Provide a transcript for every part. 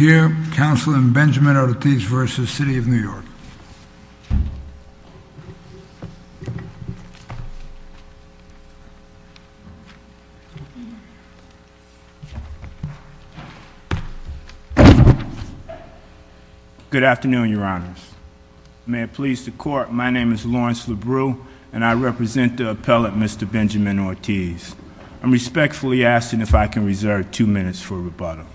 Good afternoon, your honors. May it please the court, my name is Lawrence Labreau and I represent the appellate, Mr. Benjamin Ortiz. I'm respectfully asking if I can reserve two rebuttals.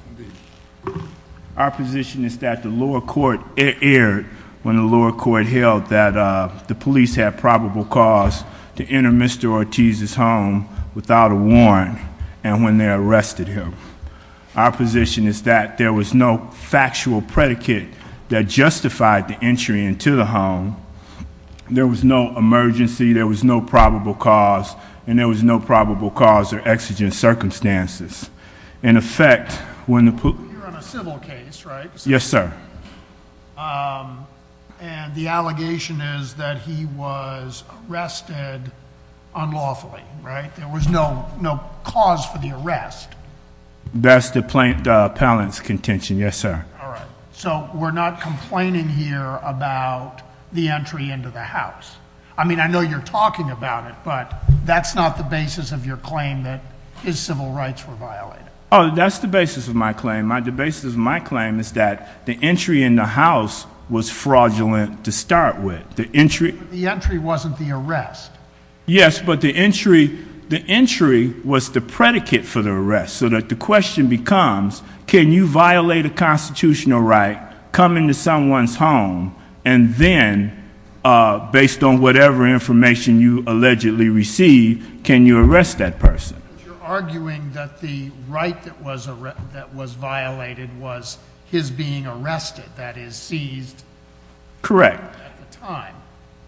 Our position is that the lower court erred when the lower court held that the police had probable cause to enter Mr. Ortiz's home without a warrant and when they arrested him. Our position is that there was no factual predicate that justified the entry into the home, there was no emergency, there was no probable cause, and there was no probable cause or exigent circumstances. You're on a civil case, right? Yes, sir. And the allegation is that he was arrested unlawfully, right? There was no cause for the arrest. That's the appellant's contention, yes, sir. So we're not complaining here about the entry into the house. I mean, I know you're talking about it, but that's not the basis of your claim that his civil rights were violated. Oh, that's the basis of my claim. The basis of my claim is that the entry in the house was fraudulent to start with. The entry wasn't the arrest. Yes, but the entry was the predicate for the arrest, so that the question becomes, can you violate a constitutional right, come into someone's home, and then, based on whatever information you allegedly received, can you arrest that person? You're arguing that the right that was violated was his being arrested, that is, seized. Correct. At the time.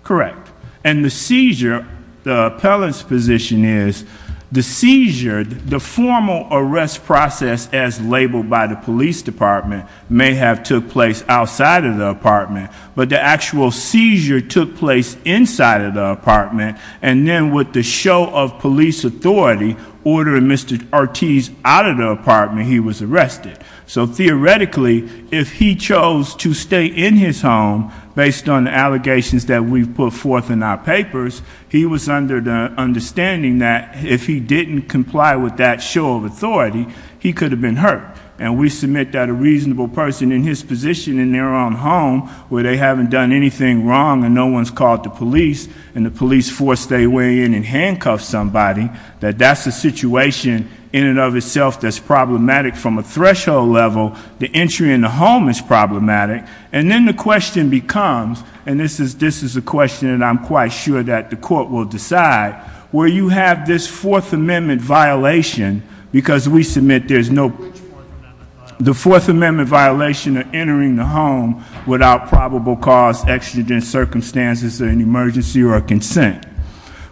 Correct. And the seizure, the appellant's position is, the seizure, the formal arrest process, as labeled by the police department, may have took place outside of the apartment, but the actual seizure took place inside of the apartment. And then with the show of police authority, ordering Mr. Ortiz out of the apartment, he was arrested. So theoretically, if he chose to stay in his home based on the allegations that we've put forth in our papers, he was under the understanding that if he didn't comply with that show of authority, he could have been hurt. And we submit that a reasonable person in his position in their own home, where they haven't done anything wrong and no one's called the police, and the police force their way in and handcuff somebody, that that's a situation in and of itself that's problematic from a threshold level. The entry in the home is problematic. And then the question becomes, and this is a question that I'm quite sure that the court will decide, where you have this Fourth Amendment violation, because we submit there's no, which Fourth Amendment violation? The Fourth Amendment violation of entering the home without probable cause, extradent, circumstances, or an emergency or a consent.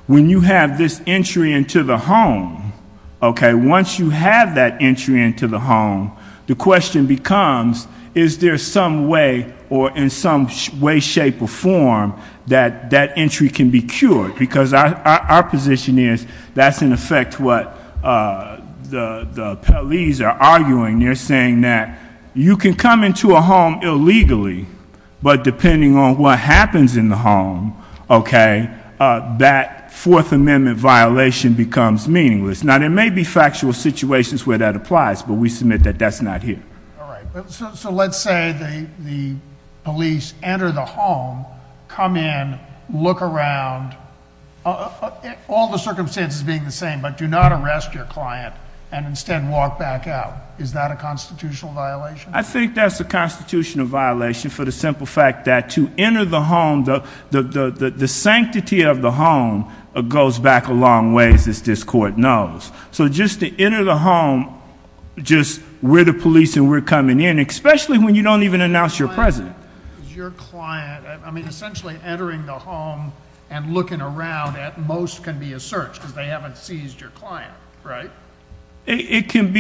When you have this entry into the home, okay, once you have that entry into the home, the question becomes, is there some way or in some way, shape, or form that that entry can be cured? Because our position is that's, in effect, what the police are arguing. They're saying that you can come into a home illegally, but depending on what happens in the home, okay, that Fourth Amendment violation becomes meaningless. Now, there may be factual situations where that applies, but we submit that that's not here. All right. So let's say the police enter the home, come in, look around, all the circumstances being the same, but do not arrest your client and instead walk back out. Is that a constitutional violation? I think that's a constitutional violation for the simple fact that to enter the home, the sanctity of the home goes back a long ways, as this court knows. So just to enter the home, just we're the police and we're coming in, especially when you don't even announce you're present. Your client, I mean, essentially entering the home and looking around at most can be a search because they haven't seized your client, right? It can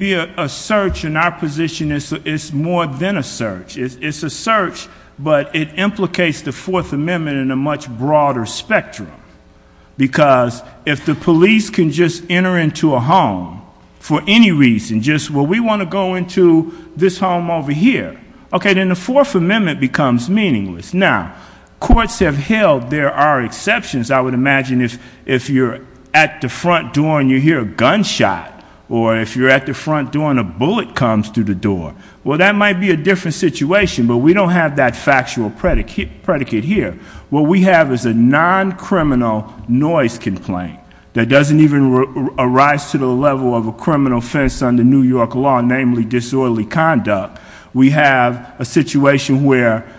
be a search, and our position is it's more than a search. It's a search, but it implicates the Fourth Amendment in a much broader spectrum. Because if the police can just enter into a home for any reason, just, well, we want to go into this home over here, okay, then the Fourth Amendment becomes meaningless. Now, courts have held there are exceptions. I would imagine if you're at the front door and you hear a gunshot, or if you're at the front door and a bullet comes through the door, well, that might be a different situation, but we don't have that factual predicate here. What we have is a non-criminal noise complaint that doesn't even arise to the level of a criminal offense under New York law, namely disorderly conduct. We have a situation where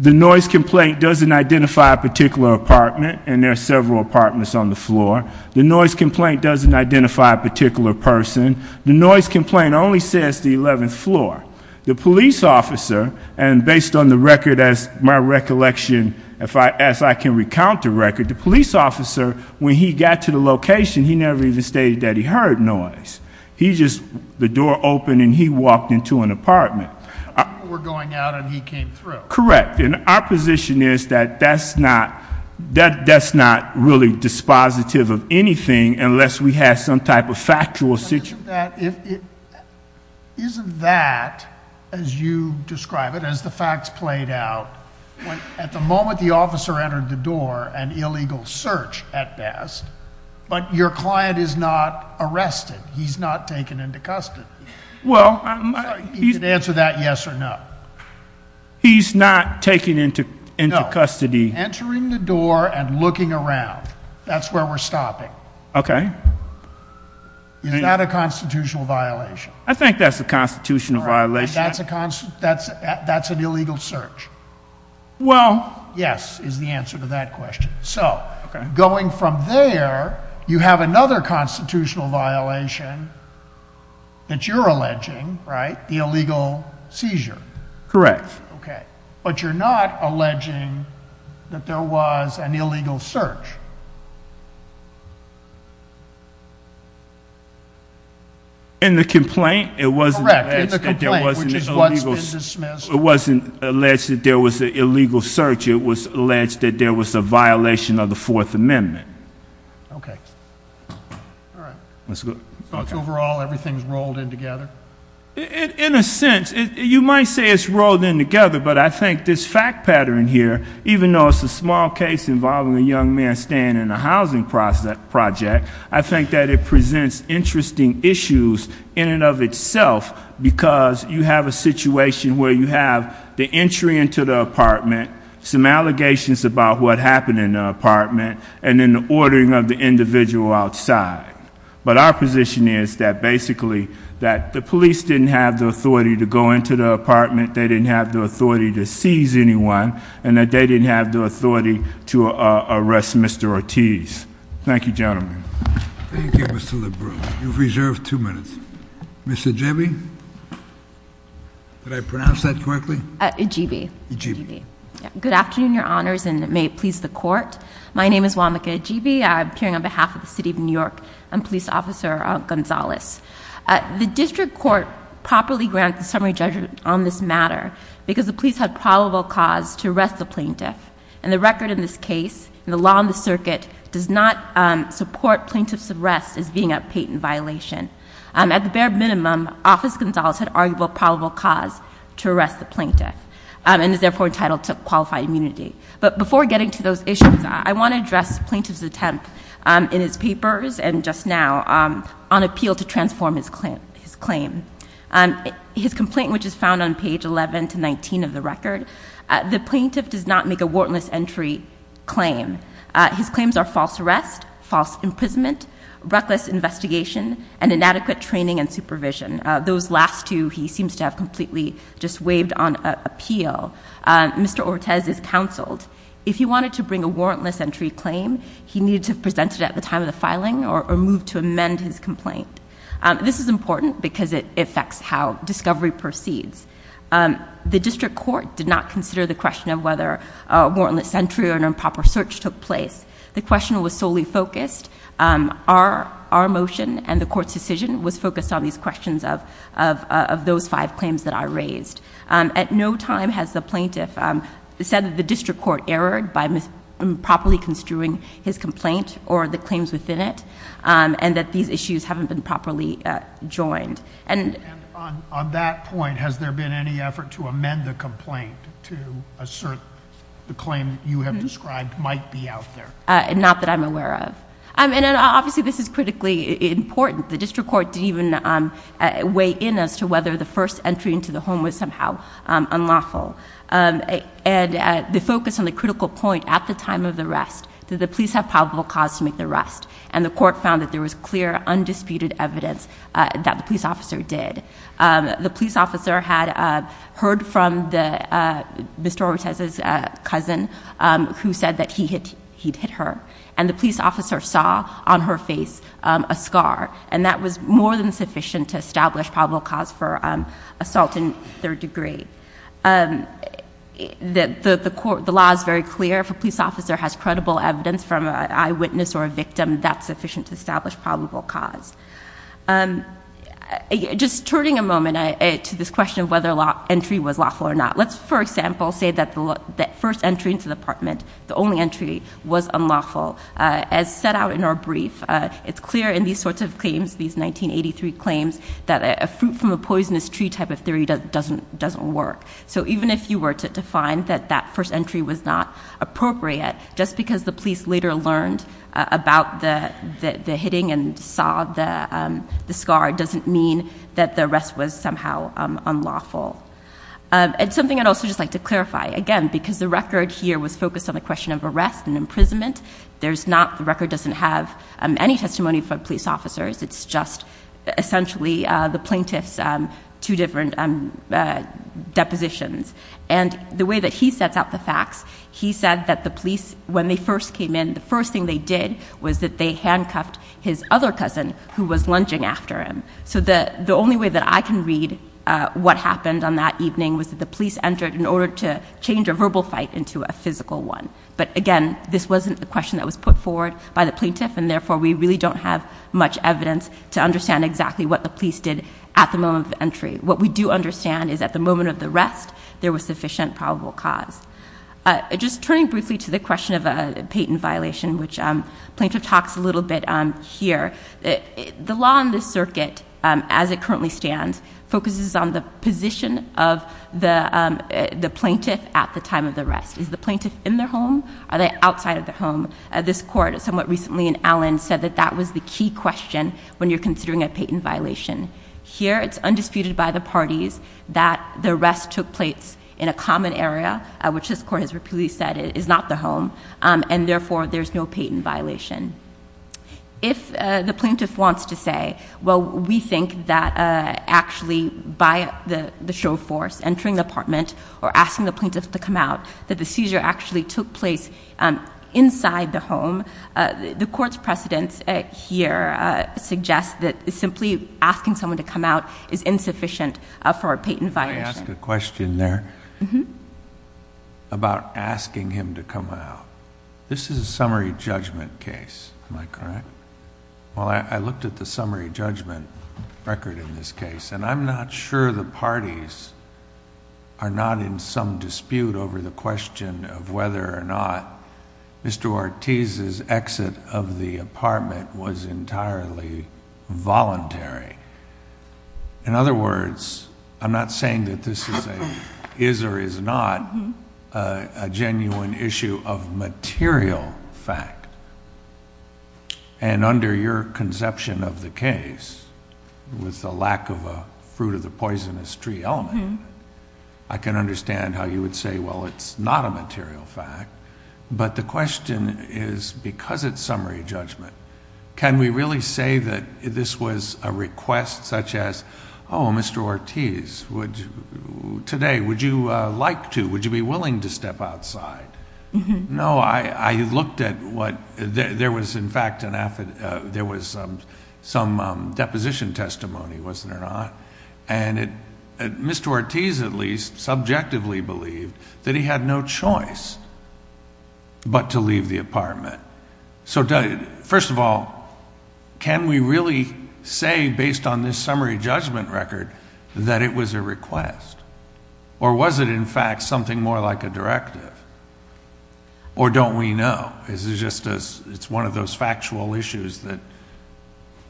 the noise complaint doesn't identify a particular apartment, and there are several apartments on the floor. The noise complaint doesn't identify a particular person. The noise complaint only says the 11th floor. The police officer, and based on the record, as my recollection, as I can recount the record, the police officer, when he got to the location, he never even stated that he heard noise. He just, the door opened and he walked into an apartment. You were going out and he came through. Correct, and our position is that that's not really dispositive of anything unless we have some type of factual situation. Isn't that, as you describe it, as the facts played out, at the moment the officer entered the door, an illegal search at best, but your client is not arrested. He's not taken into custody. He can answer that yes or no. He's not taken into custody. No, entering the door and looking around. That's where we're stopping. Okay. Is that a constitutional violation? I think that's a constitutional violation. That's an illegal search. Well. Yes, is the answer to that question. So, going from there, you have another constitutional violation that you're alleging, right? The illegal seizure. Correct. Okay, but you're not alleging that there was an illegal search. In the complaint, it wasn't alleged that there was an illegal search. It was alleged that there was a violation of the Fourth Amendment. Okay. All right. So, overall, everything's rolled in together? In a sense, you might say it's rolled in together, but I think this fact pattern here, even though it's a small case involving a young man staying in a housing project, I think that it presents interesting issues in and of itself, because you have a situation where you have the entry into the apartment, some allegations about what happened in the apartment, and then the ordering of the individual outside. But our position is that basically that the police didn't have the authority to go into the apartment, they didn't have the authority to seize anyone, and that they didn't have the authority to arrest Mr. Ortiz. Thank you, gentlemen. Thank you, Mr. Lebrun. You've reserved two minutes. Ms. Ejibi? Did I pronounce that correctly? Ejibi. Ejibi. Good afternoon, Your Honors, and may it please the Court. My name is Wamika Ejibi. I'm appearing on behalf of the City of New York. I'm Police Officer Gonzalez. The District Court properly granted the summary judgment on this matter because the police had probable cause to arrest the plaintiff, and the record in this case and the law in the circuit does not support plaintiff's arrest as being a patent violation. At the bare minimum, Office Gonzalez had arguable probable cause to arrest the plaintiff and is therefore entitled to qualified immunity. But before getting to those issues, I want to address plaintiff's attempt in his papers and just now on appeal to transform his claim. His complaint, which is found on page 11 to 19 of the record, the plaintiff does not make a warrantless entry claim. His claims are false arrest, false imprisonment, reckless investigation, and inadequate training and supervision. Those last two he seems to have completely just waived on appeal. Mr. Ortez is counseled. If he wanted to bring a warrantless entry claim, he needed to present it at the time of the filing or move to amend his complaint. This is important because it affects how discovery proceeds. The district court did not consider the question of whether a warrantless entry or an improper search took place. The question was solely focused. Our motion and the court's decision was focused on these questions of those five claims that I raised. At no time has the plaintiff said that the district court erred by improperly construing his complaint or the claims within it and that these issues haven't been properly joined. On that point, has there been any effort to amend the complaint to assert the claim you have described might be out there? Not that I'm aware of. Obviously, this is critically important. The district court didn't even weigh in as to whether the first entry into the home was somehow unlawful. The focus on the critical point at the time of the arrest, did the police have probable cause to make the arrest? And the court found that there was clear, undisputed evidence that the police officer did. The police officer had heard from Mr. Ortiz's cousin who said that he'd hit her. And the police officer saw on her face a scar. And that was more than sufficient to establish probable cause for assault in third degree. The law is very clear. If a police officer has credible evidence from an eyewitness or a victim, that's sufficient to establish probable cause. Just turning a moment to this question of whether entry was lawful or not. Let's, for example, say that the first entry into the apartment, the only entry, was unlawful. As set out in our brief, it's clear in these sorts of claims, these 1983 claims, that a fruit from a poisonous tree type of theory doesn't work. So even if you were to find that that first entry was not appropriate, just because the police later learned about the hitting and saw the scar, doesn't mean that the arrest was somehow unlawful. And something I'd also just like to clarify. Again, because the record here was focused on the question of arrest and imprisonment, the record doesn't have any testimony from police officers. It's just essentially the plaintiff's two different depositions. And the way that he sets out the facts, he said that the police, when they first came in, the first thing they did was that they handcuffed his other cousin who was lunging after him. So the only way that I can read what happened on that evening was that the police entered in order to change a verbal fight into a physical one. But again, this wasn't the question that was put forward by the plaintiff, and therefore we really don't have much evidence to understand exactly what the police did at the moment of entry. What we do understand is at the moment of the arrest, there was sufficient probable cause. Just turning briefly to the question of a patent violation, which the plaintiff talks a little bit here, the law in this circuit, as it currently stands, focuses on the position of the plaintiff at the time of the arrest. Is the plaintiff in their home? Are they outside of their home? This court somewhat recently in Allen said that that was the key question when you're considering a patent violation. Here it's undisputed by the parties that the arrest took place in a common area, which this court has repeatedly said is not the home, and therefore there's no patent violation. If the plaintiff wants to say, well, we think that actually by the show force, entering the apartment or asking the plaintiff to come out, that the seizure actually took place inside the home, the court's precedence here suggests that simply asking someone to come out is insufficient for a patent violation. Can I ask a question there about asking him to come out? This is a summary judgment case, am I correct? Well, I looked at the summary judgment record in this case, and I'm not sure the parties are not in some dispute over the question of whether or not Mr. Ortiz's exit of the apartment was entirely voluntary. In other words, I'm not saying that this is a is or is not a genuine issue of material fact. Under your conception of the case, with the lack of a fruit of the poisonous tree element, I can understand how you would say, well, it's not a material fact, but the question is, because it's summary judgment, can we really say that this was a request such as, oh, Mr. Ortiz, today would you like to, would you be willing to step outside? No, I looked at what, there was in fact, there was some deposition testimony, wasn't there not? And Mr. Ortiz at least subjectively believed that he had no choice but to leave the apartment. So first of all, can we really say based on this summary judgment record that it was a request? Or was it in fact something more like a directive? Or don't we know? It's one of those factual issues that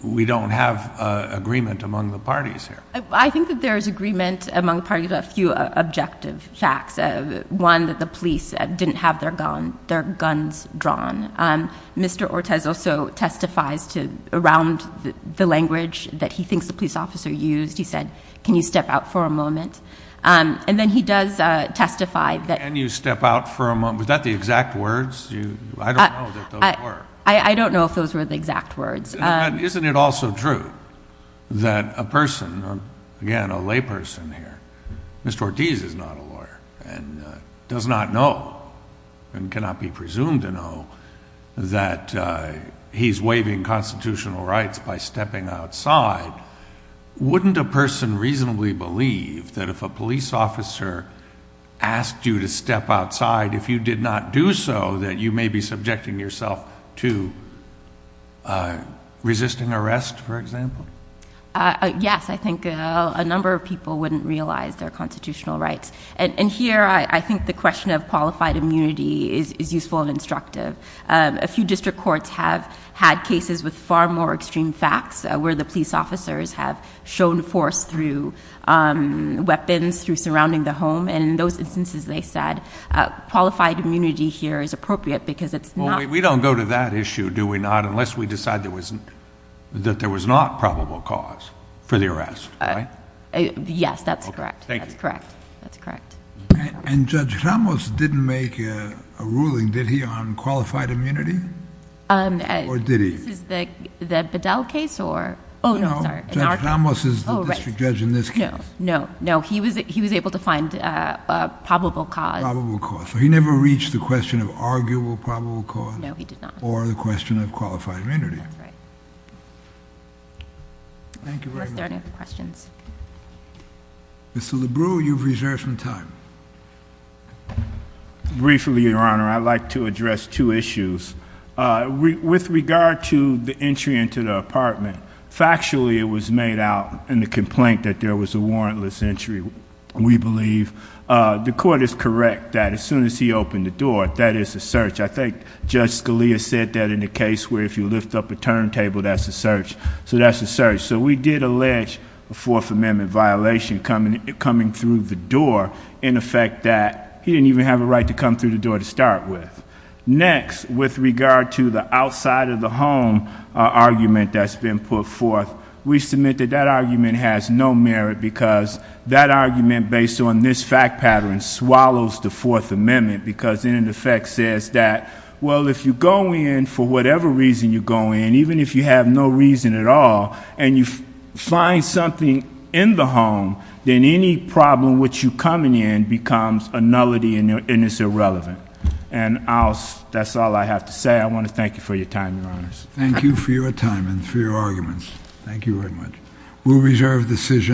we don't have agreement among the parties here. I think that there is agreement among the parties on a few objective facts. One, that the police didn't have their guns drawn. Mr. Ortiz also testifies around the language that he thinks the police officer used. He said, can you step out for a moment? And then he does testify that. Can you step out for a moment? Was that the exact words? I don't know that those were. I don't know if those were the exact words. Isn't it also true that a person, again, a lay person here, Mr. Ortiz is not a lawyer and does not know and cannot be presumed to know that he's waiving constitutional rights by stepping outside. Wouldn't a person reasonably believe that if a police officer asked you to step outside, if you did not do so, that you may be subjecting yourself to resisting arrest, for example? Yes, I think a number of people wouldn't realize their constitutional rights. And here I think the question of qualified immunity is useful and instructive. A few district courts have had cases with far more extreme facts, where the police officers have shown force through weapons, through surrounding the home. And in those instances, they said qualified immunity here is appropriate because it's not... We don't go to that issue, do we not, unless we decide that there was not probable cause for the arrest, right? Yes, that's correct. That's correct. And Judge Ramos didn't make a ruling, did he, on qualified immunity? Or did he? This is the Bedell case or... No, Judge Ramos is the district judge in this case. No, no, no. He was able to find probable cause. Probable cause. So he never reached the question of arguable probable cause... No, he did not.... or the question of qualified immunity. That's right. Thank you very much. Are there any other questions? Mr. Lebrue, you've reserved some time. Briefly, Your Honor, I'd like to address two issues. With regard to the entry into the apartment, factually it was made out in the complaint that there was a warrantless entry, we believe. The court is correct that as soon as he opened the door, that is a search. I think Judge Scalia said that in the case where if you lift up a turntable, that's a search. So, that's a search. So, we did allege a Fourth Amendment violation coming through the door. In effect, that he didn't even have a right to come through the door to start with. Next, with regard to the outside of the home argument that's been put forth, we submit that that argument has no merit... because that argument, based on this fact pattern, swallows the Fourth Amendment. Because, in effect, it says that, well, if you go in, for whatever reason you go in, even if you have no reason at all... and you find something in the home, then any problem which you come in, becomes a nullity and is irrelevant. And, that's all I have to say. I want to thank you for your time, Your Honors. Thank you for your time and for your arguments. Thank you very much. We'll reserve the decision.